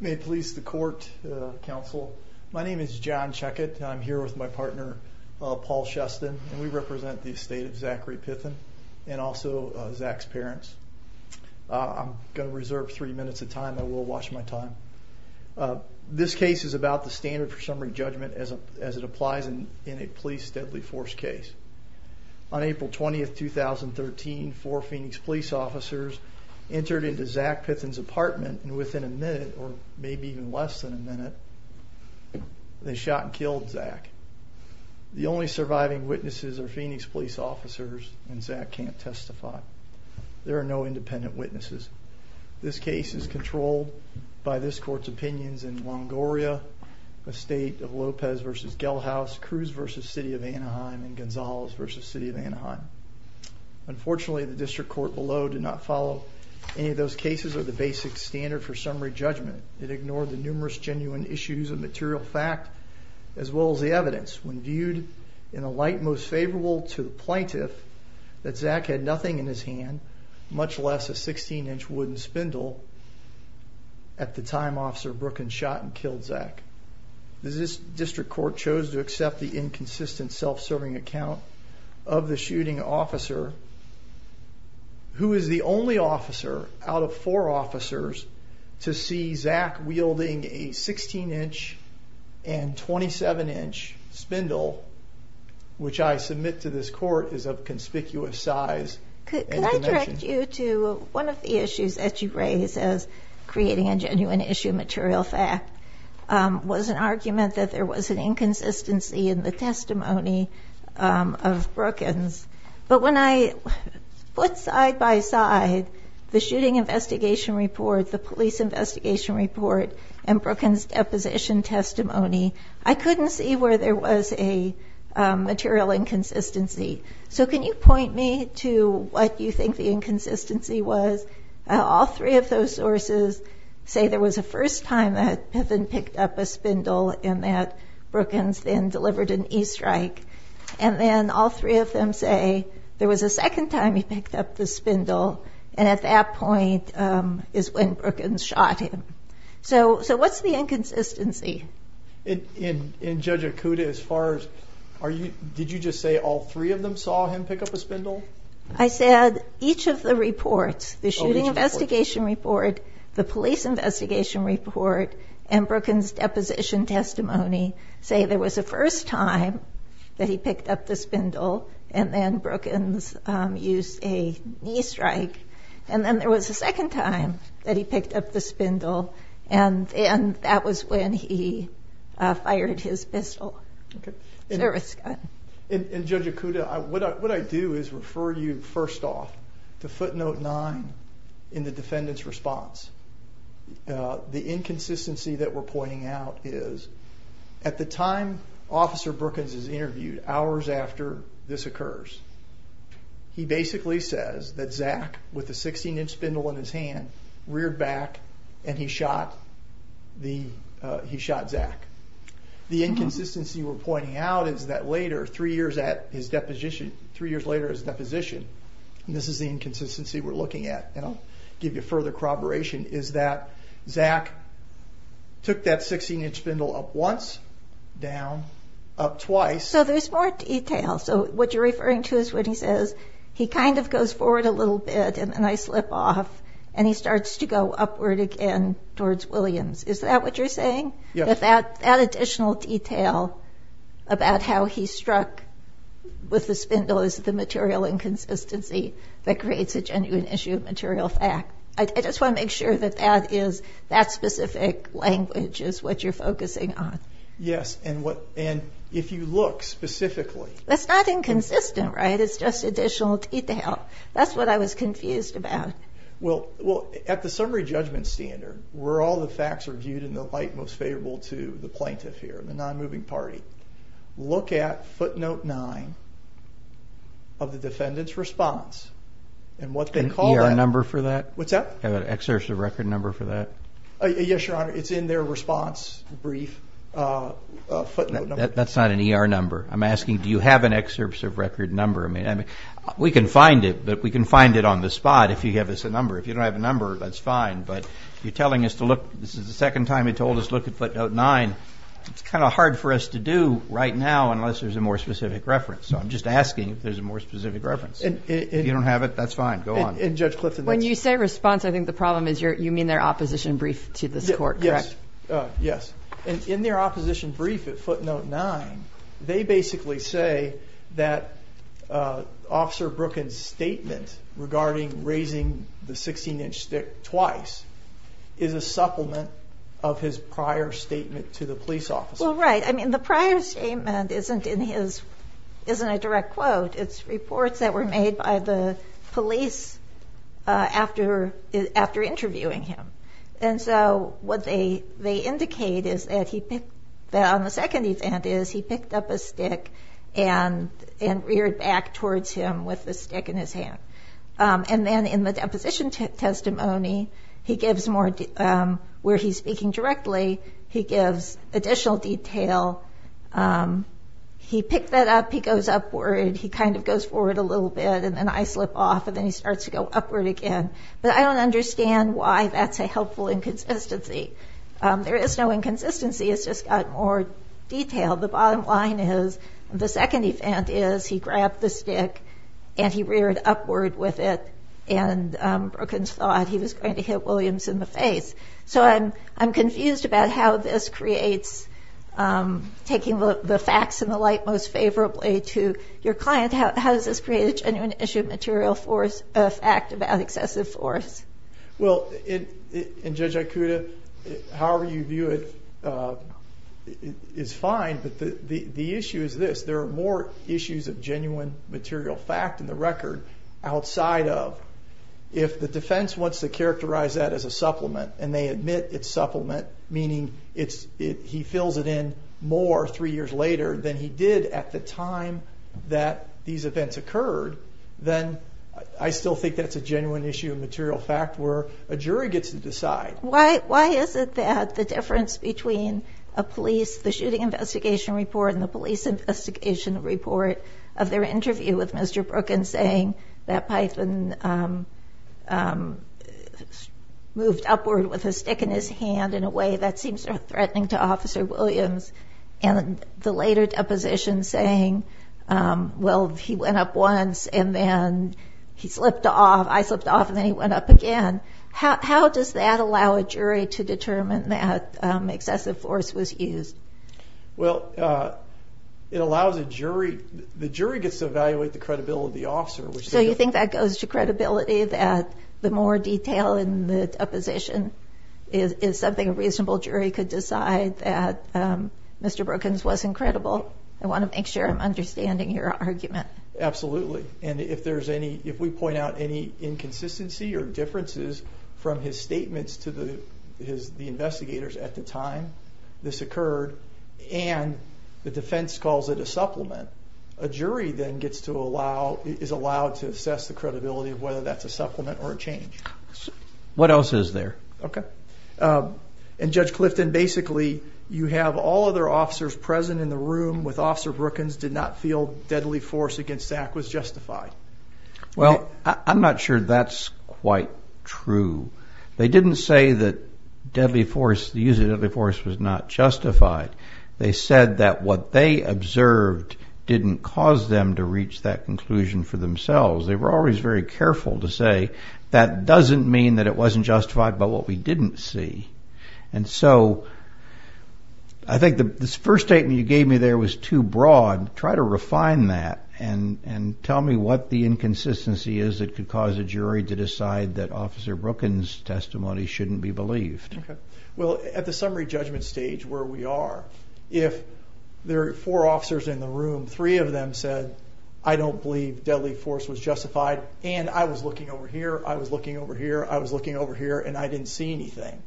May it please the court, counsel. My name is John Checkett. I'm here with my partner, Paul Shuston, and we represent the estate of Zachary Pithen and also Zach's parents. I'm going to reserve three minutes of time. I will watch my time. This case is about the standard for summary judgment as it applies in in a police deadly force case. On April 20th, 2013, four Phoenix police officers entered into Zach Pithen's apartment and within a minute, or maybe even less than a minute, they shot and killed Zach. The only surviving witnesses are Phoenix police officers and Zach can't testify. There are no independent witnesses. This case is controlled by this court's opinions in Longoria, the state of Lopez v. Gelhaus, Cruz v. City of Anaheim, and Gonzales v. City of Anaheim. Unfortunately, the district court below did not follow any of those cases or the basic standard for summary judgment. It ignored the numerous genuine issues of material fact as well as the evidence when viewed in a light most favorable to the plaintiff that Zach had nothing in his hand, much less a 16 inch wooden spindle. At the time, Officer Brooklyn shot and killed Zach. This district court chose to accept the inconsistent self-serving account of the shooting officer, who is the only officer out of four officers to see Zach wielding a 16 inch and 27 inch spindle, which I submit to this court is of conspicuous size. Could I direct you to one of the issues that you raise as creating a genuine issue of material fact was an argument that there was an inconsistency in the testimony of Brookens. But when I put side by side the shooting investigation report, the police investigation report, and Brookens' deposition testimony, I couldn't see where there was a material inconsistency. So can you point me to what you think the inconsistency was? All three of those sources say there was a first time that Piffin picked up a spindle and that Brookens then delivered an E-strike. And then all three of them say there was a second time he picked up the spindle, and at that point is when Brookens shot him. So what's the inconsistency? In Judge Okuda, as far as... Did you just say all three of them saw him pick up a spindle? I said each of the reports, the shooting investigation report, the police investigation report, and Brookens' deposition testimony say there was a first time that he picked up the spindle, and then Brookens used a E-strike. And then there was a second time that he picked up the spindle, and that was when he fired his pistol, service gun. And Judge Okuda, what I do is refer you, first off, to footnote nine in the defendant's response. The inconsistency that we're pointing out is, at the time Officer Brookens is interviewed, hours after this occurs, he basically says that Zach, with a 16 inch spindle in his hand, reared back and he shot Zach. The inconsistency we're pointing out is that later, three years later at his deposition, this is the inconsistency we're referring to as further corroboration, is that Zach took that 16 inch spindle up once, down, up twice. So there's more detail. So what you're referring to is when he says, he kind of goes forward a little bit and then I slip off, and he starts to go upward again towards Williams. Is that what you're saying? Yes. That additional detail about how he struck with the spindle is the material inconsistency that creates a genuine issue of material fact. I just wanna make sure that that is, that specific language is what you're focusing on. Yes. And if you look specifically... That's not inconsistent, right? It's just additional detail. That's what I was confused about. Well, at the summary judgment standard, where all the facts are viewed in the light most favorable to the plaintiff here, the non moving party, look at footnote nine of the defendant's response and what they call that... An ER number for that? What's that? An excerpt of record number for that? Yes, Your Honor, it's in their response brief footnote number. That's not an ER number. I'm asking, do you have an excerpt of record number? We can find it, but we can find it on the spot if you give us a number. If you don't have a number, that's fine, but you're telling us to look... This is the second time you told us to look at footnote nine. It's kind of hard for us to do right now unless there's a more specific reference. So I'm just asking if there's a more specific reference. If you don't have it, that's fine. Go on. And Judge Clifton... When you say response, I think the problem is you mean their opposition brief to this court, correct? Yes. Yes. In their opposition brief at footnote nine, they basically say that Officer Brooklyn's statement regarding raising the 16 inch stick twice is a supplement of his prior statement to the police officer. Well, right. The prior statement isn't a direct quote. It's reports that were made by the police after interviewing him. And so what they indicate is that on the second event is he picked up a stick and reared back towards him with the stick in his hand. And then in the deposition testimony, he gives more... Where he's speaking directly, he gives additional detail. He picked that up, he goes upward, he kind of goes forward a little bit, and then I slip off, and then he starts to go upward again. But I don't understand why that's a helpful inconsistency. There is no inconsistency, it's just got more detail. The bottom line is the second event is he grabbed the stick and he reared upward with it, and Brooklyn's thought he was going to hit Williams in the face. So I'm confused about how this creates... Taking the facts in the light most favorably to your client, how does this create a genuine issue of material fact about excessive force? Well, and Judge Aikuda, however you view it, is fine, but the issue is this. There are more issues of genuine material fact in the record outside of... If the defense wants to characterize that as a supplement and they admit it's supplement, meaning he fills it in more three years later than he did at the time that these events occurred, then I still think that's a genuine issue of material fact where a jury gets to decide. Why is it that the difference between a police, the shooting investigation report and the police investigation report of their interview with Mr. Brooklyn saying that Python moved upward with a stick in his hand in a way that seems threatening to Officer Williams, and the later deposition saying, well, he went up once and then he slipped off, I slipped off, and then he went up again. How does that allow a jury to determine that excessive force was used? Well, it allows a jury... The jury gets to evaluate the credibility of the officer, which... So you think that goes to credibility that the more detail in the deposition is something a reasonable jury could decide that Mr. Brookens wasn't credible? I wanna make sure I'm understanding your argument. Absolutely. And if there's any... If we point out any inconsistency or differences from his statements to the investigators at the time this occurred, and the defense calls it a supplement, a jury then gets to allow... Is allowed to assess the credibility of whether that's a supplement or a supplement. What else is there? Okay. And Judge Clifton, basically, you have all other officers present in the room with Officer Brookens did not feel deadly force against Zach was justified. Well, I'm not sure that's quite true. They didn't say that deadly force, the use of deadly force was not justified. They said that what they observed didn't cause them to reach that conclusion for themselves. They were always very careful to say that doesn't mean that it wasn't justified by what we didn't see. And so I think the first statement you gave me there was too broad. Try to refine that and tell me what the inconsistency is that could cause a jury to decide that Officer Brookens' testimony shouldn't be believed. Okay. Well, at the summary judgment stage where we are, if there are four officers in the room, three of them said, I don't believe deadly force was justified, and I was looking over here, I was looking over here, I was looking over here, and I didn't see anything.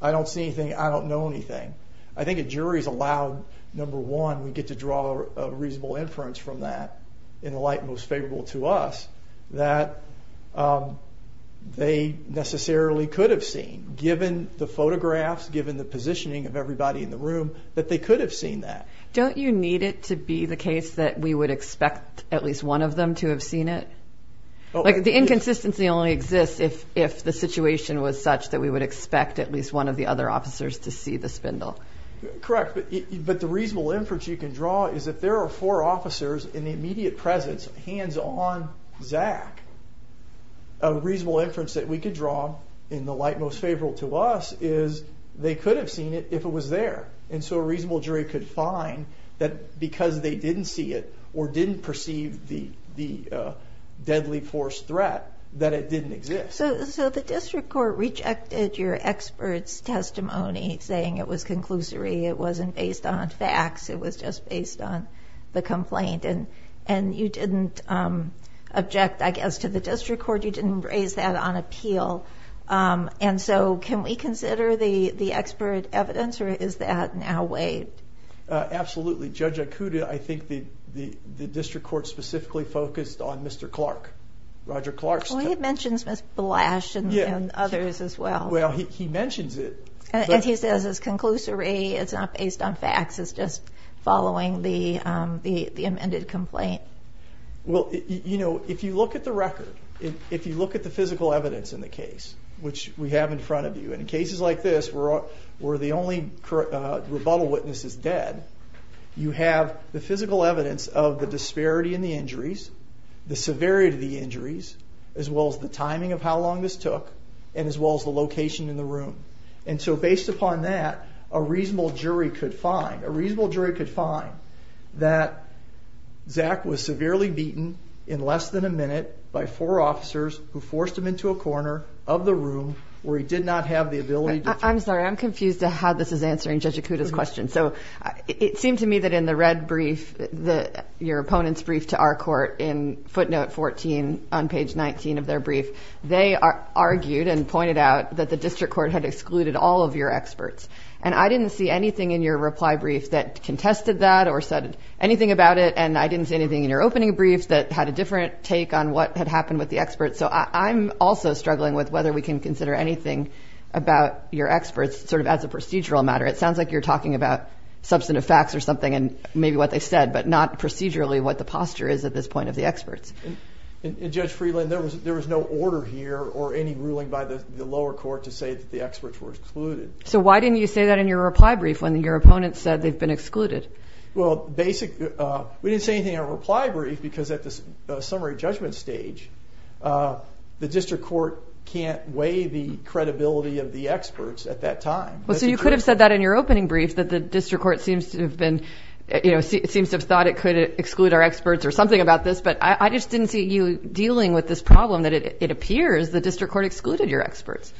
I don't see anything, I don't know anything. I think a jury is allowed, number one, we get to draw a reasonable inference from that, in the light most favorable to us, that they necessarily could have seen, given the photographs, given the positioning of everybody in the room, that they could have seen that. Don't you need it to be the case that we would expect at least one of them to have seen it? The inconsistency only exists if the situation was such that we would expect at least one of the other officers to see the spindle. Correct, but the reasonable inference you can draw is that there are four officers in the immediate presence, hands on Zach. A reasonable inference that we could draw, in the light most favorable to us, is they could have seen it if it was there. And so a reasonable jury could find that because they didn't see it or didn't perceive the deadly force threat, that it didn't exist. So the district court rejected your expert's testimony, saying it was conclusory, it wasn't based on facts, it was just based on the complaint, and you didn't object, I guess, to the district court, you didn't raise that on appeal. And so can we consider the expert evidence or is that now waived? Absolutely. Judge Acuda, I think the district court specifically focused on Mr. Clark, Roger Clark's testimony. Well, he mentions Ms. Blash and others as well. Well, he mentions it, but... And he says it's conclusory, it's not based on facts, it's just following the amended complaint. Well, if you look at the record, if you look at the physical evidence in the case, which we have in front of you, and in cases like this, where the only rebuttal witness is dead, you have the physical evidence of the disparity in the injuries, the severity of the injuries, as well as the timing of how long this took, and as well as the location in the room. And so based upon that, a reasonable jury could find, a reasonable jury was severely beaten in less than a minute by four officers who forced him into a corner of the room where he did not have the ability to... I'm sorry, I'm confused to how this is answering Judge Acuda's question. So it seemed to me that in the red brief, your opponent's brief to our court in footnote 14 on page 19 of their brief, they argued and pointed out that the district court had excluded all of your experts. And I didn't see anything in your reply brief that contested that or said anything about it, and I didn't see anything in your opening brief that had a different take on what had happened with the experts. So I'm also struggling with whether we can consider anything about your experts as a procedural matter. It sounds like you're talking about substantive facts or something and maybe what they said, but not procedurally what the posture is at this point of the experts. And Judge Freeland, there was no order here or any ruling by the lower court to say that the experts were excluded. So why didn't you say that in your reply brief when your opponent said they've been excluded? Well, we didn't say anything in our reply brief because at the summary judgment stage, the district court can't weigh the credibility of the experts at that time. So you could have said that in your opening brief that the district court seems to have been... It seems to have thought it could exclude our experts or something about this, but I just didn't see you dealing with this problem that it appears the district court excluded your experts.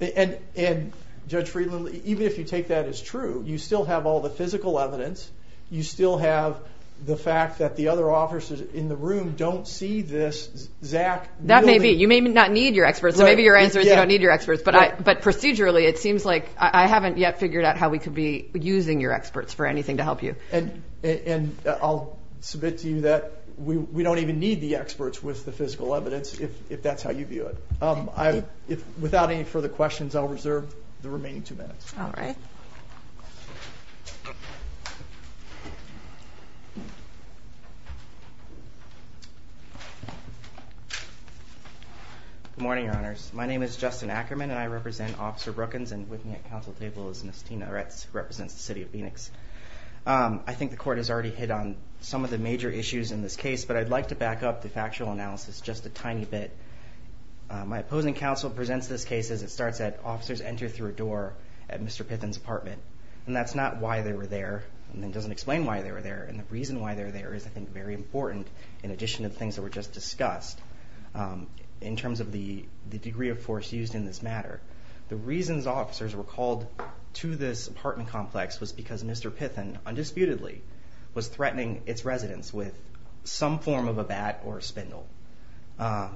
And Judge Freeland, even if you take that as true, you still have all the physical evidence, you still have the fact that the other officers in the room don't see this exact... That may be. You may not need your experts. So maybe your answer is you don't need your experts. But procedurally, it seems like I haven't yet figured out how we could be using your experts for anything to help you. And I'll submit to you that we don't even need the experts with the physical evidence, if that's how you view it. Without any further questions, I'll reserve the remaining two minutes. Alright. Good morning, Your Honors. My name is Justin Ackerman and I represent Officer Brookins, and with me at council table is Ms. Tina Eretz, who represents the City of Phoenix. I think the court has already hit on some of the major issues in this case, but I'd like to back up the factual analysis just a tiny bit. My opposing counsel presents this case as it starts at officers enter through a door at Mr. Pithen's apartment, and that's not why they were there, and it doesn't explain why they were there. And the reason why they're there is, I think, very important, in addition to the things that were just discussed, in terms of the degree of force used in this matter. The reasons officers were called to this apartment complex was because Mr. Pithen, undisputedly, was threatening its residents with some form of a bat or a spindle.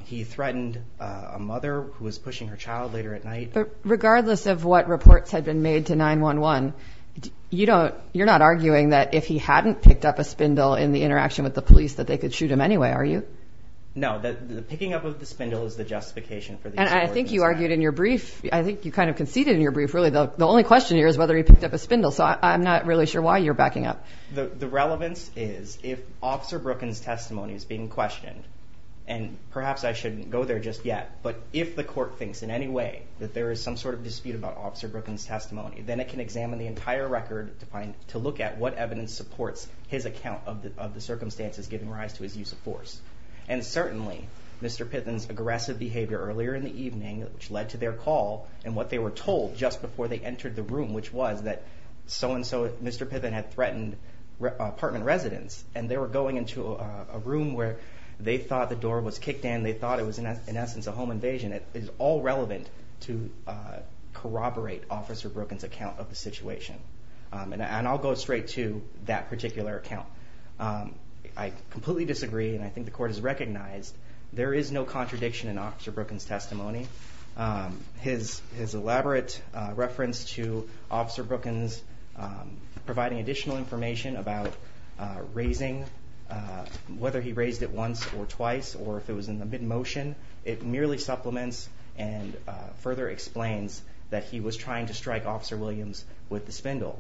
He threatened a mother who was pushing her child later at night. Regardless of what reports had been made to 911, you're not arguing that if he hadn't picked up a spindle in the interaction with the police, that they could shoot him anyway, are you? No, the picking up of the spindle is the justification for the... And I think you argued in your brief, I think you kind of conceded in your brief, really, the only question here is whether he picked up a spindle, so I'm not really sure why you're backing up. The relevance is, if Officer Brookins' testimony is being questioned, and perhaps I shouldn't go there just yet, but if the court thinks in any way that there is some sort of dispute about Officer Brookins' testimony, then it can examine the entire record to look at what evidence supports his account of the circumstances giving rise to his use of force. And certainly, Mr. Pithen's aggressive behavior earlier in the evening, which led to their call, and what they were told just before they entered the room, which was that so and so, Mr. Pithen had threatened apartment residents, and they were going into a room where they thought the door was kicked in, they thought it was, in essence, a home invasion. It is all relevant to corroborate Officer Brookins' account of the situation. And I'll go straight to that particular account. I completely disagree, and I think the court has recognized there is no contradiction in Officer Brookins' testimony. His elaborate reference to Officer Brookins providing additional information about raising, whether he raised it once or twice, or if it was in mid motion, it merely supplements and further explains that he was trying to strike Officer Williams with the spindle.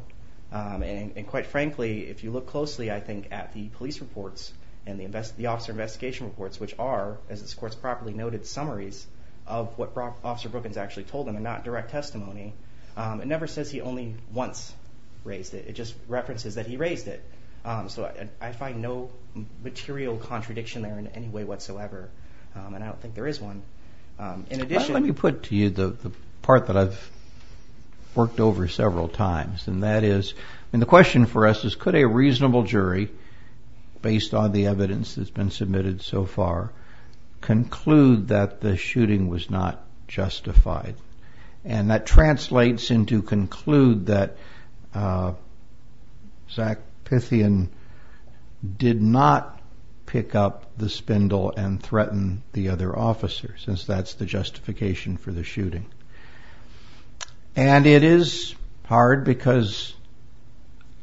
And quite frankly, if you look closely, I think, at the police reports and the officer investigation reports, which are, as this court's properly noted, summaries of what Officer Brookins actually told them, and not direct testimony, it never says he only once raised it, it just references that he raised it. So I find no material contradiction there in any way whatsoever. And I don't think there is one. In addition... Let me put to you the part that I've worked over several times, and that is, and the question for us is, could a reasonable jury, based on the evidence that's been submitted so far, conclude that the shooting was not justified? And that translates into conclude that Zach Pythian did not pick up the spindle and threaten the other officer, since that's the justification for the shooting. And it is hard because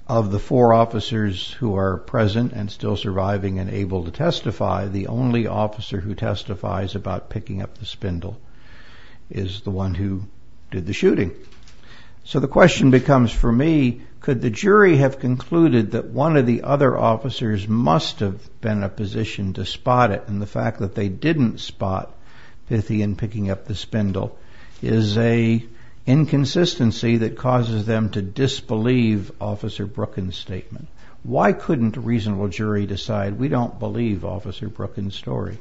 of the four officers who are present and still surviving and able to testify, the only officer who testifies about picking up the spindle is the one who did the shooting. So the question becomes, for me, could the jury have concluded that one of the other officers must have been in a position to spot it, and the fact that they didn't spot Pythian picking up the spindle is a inconsistency that causes them to disbelieve Officer Brookins' statement. Why couldn't a reasonable jury have concluded?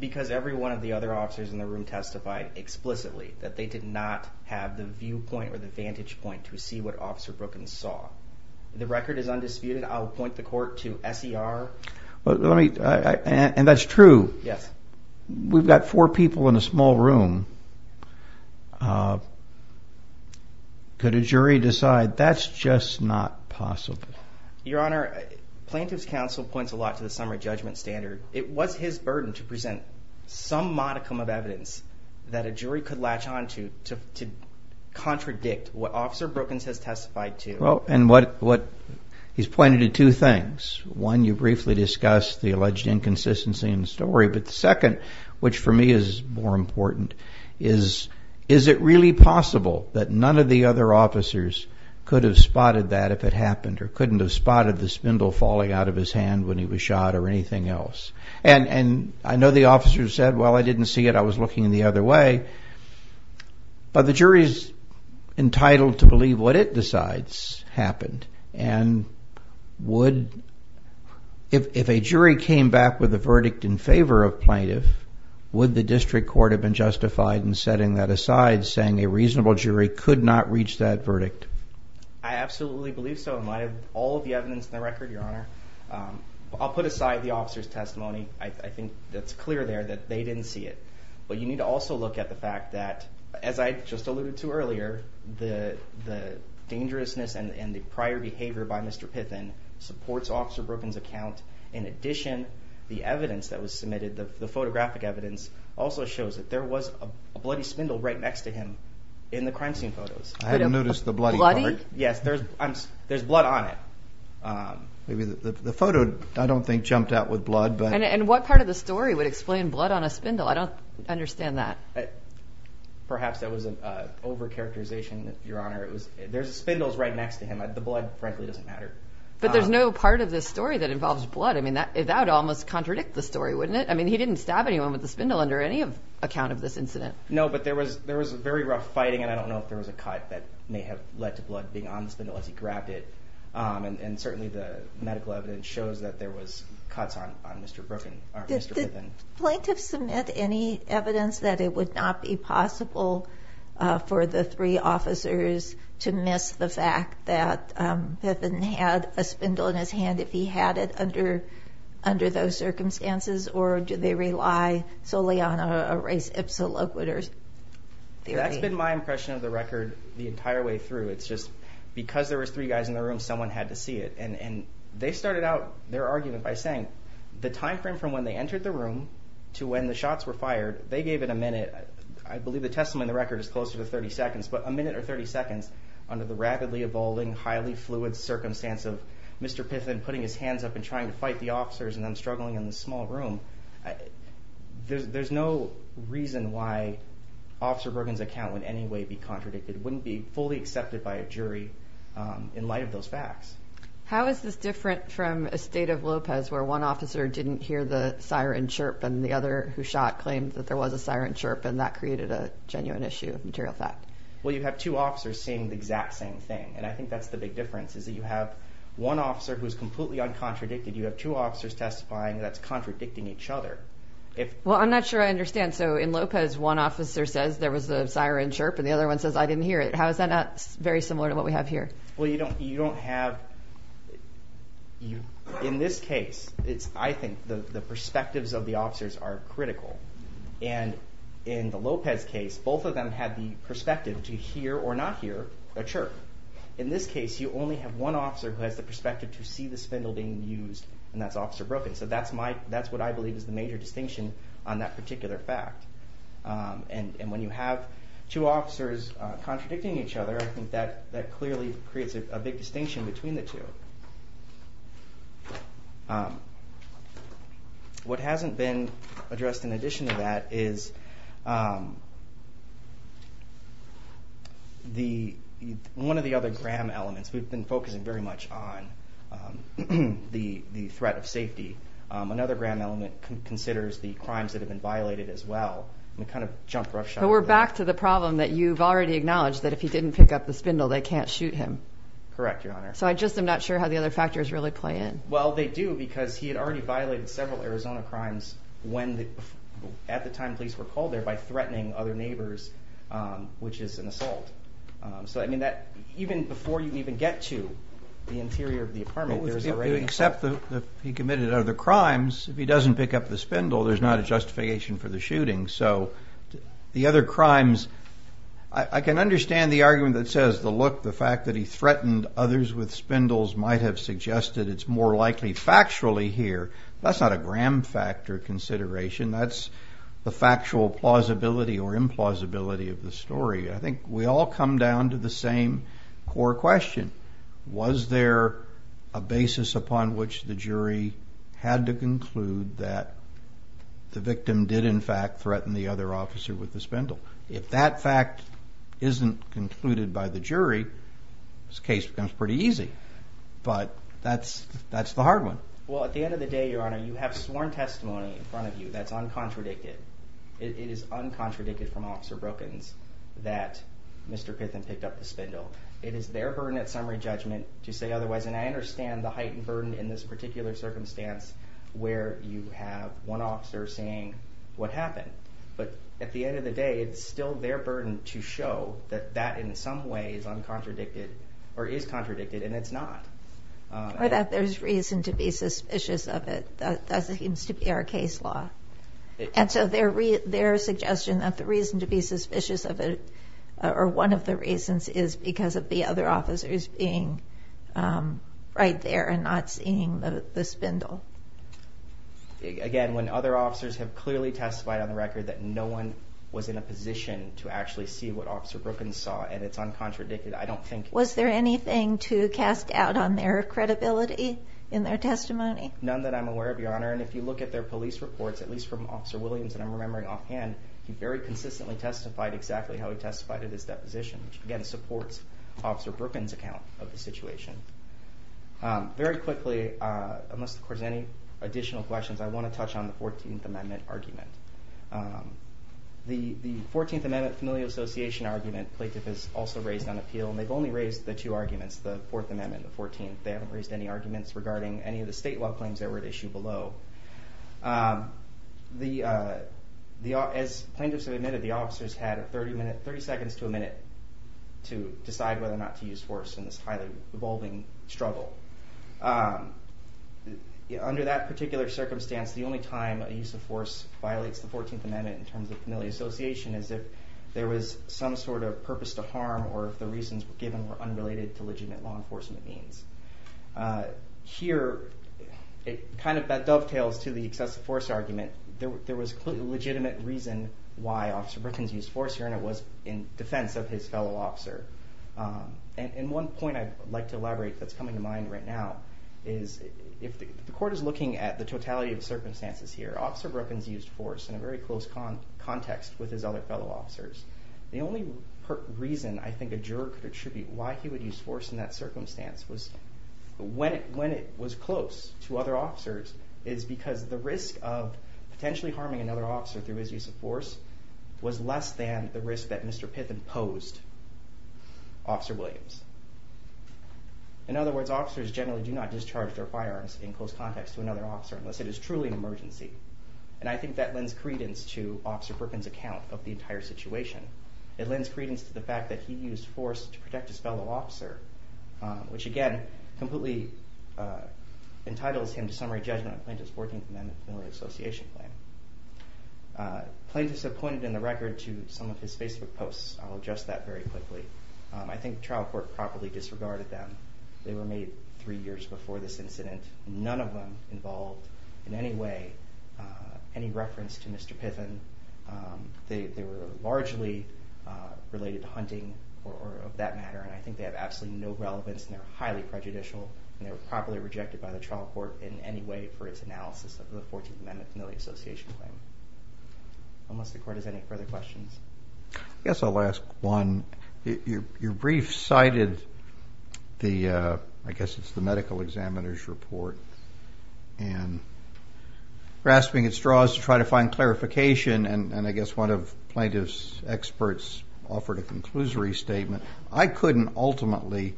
Because every one of the other officers in the room testified explicitly that they did not have the viewpoint or the vantage point to see what Officer Brookins saw. The record is undisputed. I'll point the court to SER. And that's true. Yes. We've got four people in a small room. Could a jury decide that's just not possible? Your Honor, Plaintiff's Counsel points a lot to the summary judgment standard. It was his burden to present some modicum of evidence that a jury could latch onto to contradict what Officer Brookins has testified to. Well, and what... He's pointed to two things. One, you briefly discussed the alleged inconsistency in the story. But the second, which for me is more important, is, is it really possible that none of the other officers could have spotted that if it happened, or couldn't have spotted the spindle falling out of his hand when he was shot, or anything else? And I know the officer said, well, I didn't see it, I was looking the other way. But the jury's entitled to believe what it decides happened. And would... If a jury came back with a verdict in favor of plaintiff, would the district court have been justified in setting that aside, saying a reasonable jury could not reach that verdict? I absolutely believe so, in light of all of the evidence in the case. I'll put aside the officer's testimony. I think that's clear there that they didn't see it. But you need to also look at the fact that, as I just alluded to earlier, the dangerousness and the prior behavior by Mr. Pithen supports Officer Brookins' account. In addition, the evidence that was submitted, the photographic evidence, also shows that there was a bloody spindle right next to him in the crime scene photos. I hadn't noticed the bloody part. Bloody? Yes, there's... There's blood on it. Maybe the photo, I don't think, jumped out with blood, but... And what part of the story would explain blood on a spindle? I don't understand that. Perhaps that was an over characterization, Your Honor. It was... There's spindles right next to him. The blood, frankly, doesn't matter. But there's no part of this story that involves blood. That would almost contradict the story, wouldn't it? He didn't stab anyone with the spindle under any account of this incident. No, but there was a very rough fighting, and I don't know if there was a cut that may have led to blood being on the spindle as he grabbed it. And certainly, the medical evidence shows that there was cuts on Mr. Brookin... Mr. Pithen. Did the plaintiff submit any evidence that it would not be possible for the three officers to miss the fact that Pithen had a spindle in his hand if he had it under those circumstances, or do they rely solely on a race ipsiloquitur theory? That's been my impression of the record the entire way through. It's just because there was three guys in the room, someone had to see it. And they started out their argument by saying the time frame from when they entered the room to when the shots were fired, they gave it a minute. I believe the testimony in the record is closer to 30 seconds, but a minute or 30 seconds under the rapidly evolving, highly fluid circumstance of Mr. Pithen putting his hands up and trying to fight the officers and them struggling in the small room. There's no reason why Officer Brookin's account would in any way be contradicted. It wouldn't be fully accepted by a jury in light of those facts. How is this different from a state of Lopez where one officer didn't hear the siren chirp and the other who shot claimed that there was a siren chirp and that created a genuine issue of material fact? Well, you have two officers saying the exact same thing, and I think that's the big difference, is that you have one officer who's completely uncontradicted, you have two officers testifying that's contradicting each other. Well, I'm not sure I understand. So in Lopez, one officer says there was a siren chirp and the other one says, I didn't hear it. How is that not very similar to what we have here? Well, you don't have... In this case, I think the perspectives of the officers are critical. And in the Lopez case, both of them had the perspective to hear or not hear a chirp. In this case, you only have one officer who has the perspective to see the spindle being used, and that's Officer Brookin. So that's what I believe is the major distinction on that particular fact. And when you have two officers contradicting each other, I think that clearly creates a big distinction between the two. What hasn't been addressed in addition to that is one of the other gram elements, we've been focusing very much on the threat of safety. Another gram element considers the crimes that have been violated as well. I'm gonna jump roughshod over that. But we're back to the problem that you've already acknowledged, that if he didn't pick up the spindle, they can't shoot him. Correct, Your Honor. So I just am not sure how the other factors really play in. Well, they do because he had already violated several Arizona crimes when at the time police were called there by threatening other neighbors, which is an assault. Even before you even get to the interior of the apartment, there's already... Except that he committed other crimes, if he doesn't pick up the spindle, there's not a justification for the shooting. So the other crimes... I can understand the argument that says the look, the fact that he threatened others with spindles might have suggested it's more likely factually here. That's not a gram factor consideration, that's the factual plausibility or implausibility of the story. I think we all come down to the same core question. Was there a basis upon which the jury had to conclude that the victim did, in fact, threaten the other officer with the spindle? If that fact isn't concluded by the jury, this case becomes pretty easy. But that's the hard one. Well, at the end of the day, Your Honor, you have sworn testimony in front of you that's uncontradicted. It is uncontradicted from Officer Brookins that Mr. Pitham picked up the spindle. It is their burden at summary judgment to say otherwise, and I understand the heightened burden in this particular circumstance where you have one officer saying, what happened? But at the end of the day, it's still their burden to show that that in some way is uncontradicted or is contradicted, and it's not. Or that there's reason to be suspicious of it. That seems to be our case law. And so their suggestion that the reason to be suspicious of it, or one of the reasons is because of the other officers being right there and not seeing the spindle. Again, when other officers have clearly testified on the record that no one was in a position to actually see what Officer Brookins saw, and it's uncontradicted, I don't think... Was there anything to cast out on their credibility in their testimony? None that I'm aware of, Your Honor. And if you look at their police reports, at least from Officer Williams, and I'm remembering offhand, he very consistently testified exactly how he testified at his deposition, which again, supports Officer Brookins' account of the situation. Very quickly, unless there's any additional questions, I wanna touch on the 14th Amendment argument. The 14th Amendment Familial Association argument, plaintiff has also raised on appeal, and they've only raised the two arguments, the Fourth Amendment and the 14th. They haven't raised any arguments regarding any of the state law claims that were at issue below. As plaintiffs have admitted, the officers had a 30 minute... 30 seconds to a minute to decide whether or not to use force in this highly revolving struggle. Under that particular circumstance, the only time a use of force violates the 14th Amendment in terms of familial association is if there was some sort of purpose to harm, or if the reasons given were unrelated to legitimate law enforcement means. Here, it kind of dovetails to the excessive force argument. There was clearly a legitimate reason why Officer Brookins used force here, and it was in defense of his fellow officer. And one point I'd like to elaborate that's coming to mind right now is if the court is looking at the totality of the circumstances here, Officer Brookins used force in a very close context with his other fellow officers. The only reason I think a juror could attribute why he would use force in that circumstance was when it was close to other officers is because the risk of potentially harming another officer through his use of force was less than the risk that Mr. Piffin posed Officer Williams. In other words, officers generally do not discharge their firearms in close context to another officer unless it is truly an emergency. And I think that lends credence to Officer Brookins' account of the entire situation. It lends credence to the fact that he used force to protect his fellow officer, which again, completely entitles him to summary judgment on plaintiff's 14th Amendment familial association claim. Plaintiffs have pointed in the record to some of his Facebook posts. I'll adjust that very quickly. I think the trial court properly disregarded them. They were made three years before this incident, none of them involved in any way, any reference to Mr. Piffin. They were largely related to hunting or of that matter, and I think they have absolutely no relevance, and they're highly prejudicial, and they were properly rejected by the trial court in any way for its analysis of the 14th Amendment familial association claim. Unless the court has any further questions. Yes, I'll ask one. Your brief cited I guess it's the medical examiner's report, and grasping at straws to try to find clarification, and I guess one of plaintiff's experts offered a conclusory statement. I couldn't ultimately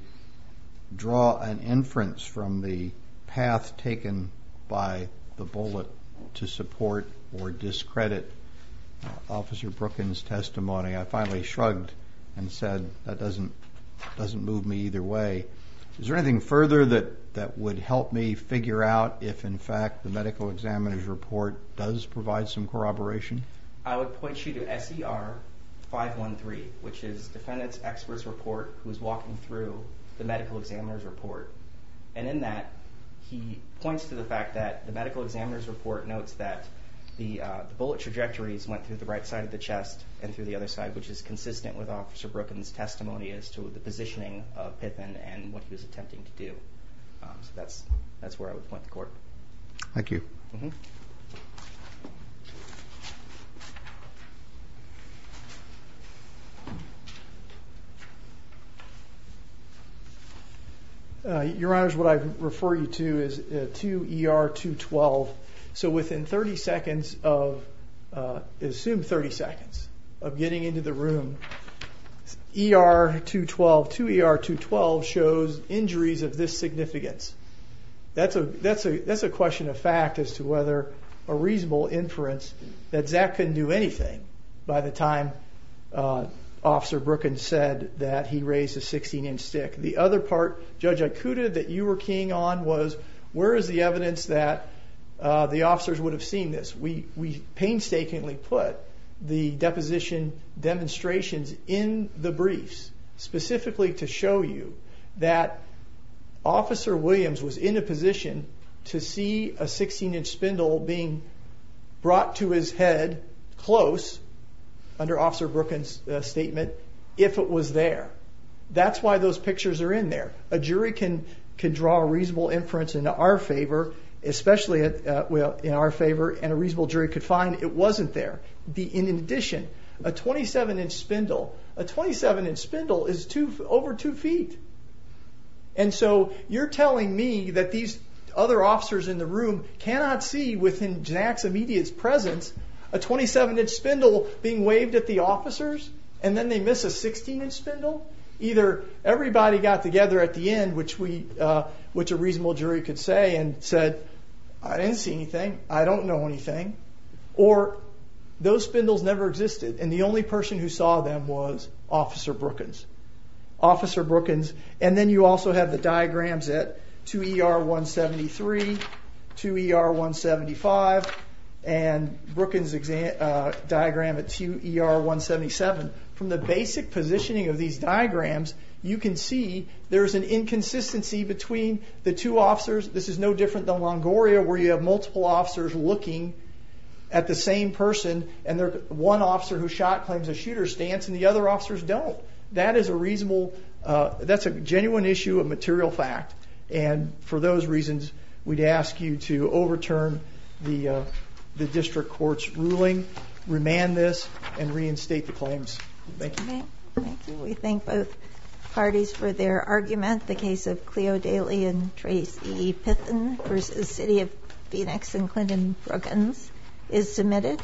draw an inference from the path taken by the bullet to support or discredit Officer Brooken's testimony. I finally shrugged and said, that doesn't move me either way. Is there anything further that would help me figure out if in fact the medical examiner's report does provide some corroboration? I would point you to SER 513, which is defendant's expert's report who's walking through the medical examiner's report, and in that, he points to the fact that the medical examiner's report notes that the bullet trajectories went through the right side of the chest and through the other side, which is consistent with Officer Brooken's testimony as to the positioning of Pittman and what he was attempting to do. That's where I would point the court. Thank you. Your Honor, what I refer you to is 2ER212. So within 30 seconds of... Assume 30 seconds of getting into the room, ER212, 2ER212 shows injuries of this significance. That's a question of fact as to whether a reasonable inference that Zack couldn't do anything by the time Officer Brooken said that he raised a 16 inch stick. The other part, Judge Ikuda, that you were keying on was, where is the evidence that the officers would have seen this? We painstakingly put the deposition demonstrations in the briefs, specifically to show you that Officer Williams was in a position to see a 16 inch close, under Officer Brooken's statement, if it was there. That's why those pictures are in there. A jury can draw a reasonable inference in our favor, especially in our favor, and a reasonable jury could find it wasn't there. In addition, a 27 inch spindle, a 27 inch spindle is over two feet. And so you're telling me that these other officers in the 27 inch spindle being waved at the officers, and then they miss a 16 inch spindle? Either everybody got together at the end, which a reasonable jury could say, and said, I didn't see anything, I don't know anything, or those spindles never existed, and the only person who saw them was Officer Brooken's. Officer Brooken's. And then you also have the diagrams at 2ER173, 2ER175, and Brooken's diagram at 2ER177. From the basic positioning of these diagrams, you can see there's an inconsistency between the two officers. This is no different than Longoria, where you have multiple officers looking at the same person, and one officer who shot claims a shooter's stance and the other officers don't. That is a reasonable... That's a genuine issue of material fact, and for those reasons, we'd ask you to overturn the district court's ruling, remand this, and reinstate the claims. Thank you. Thank you. We thank both parties for their argument. The case of Cleo Daly and Tracy Pithen versus City of Phoenix and Clinton Brooken's is submitted.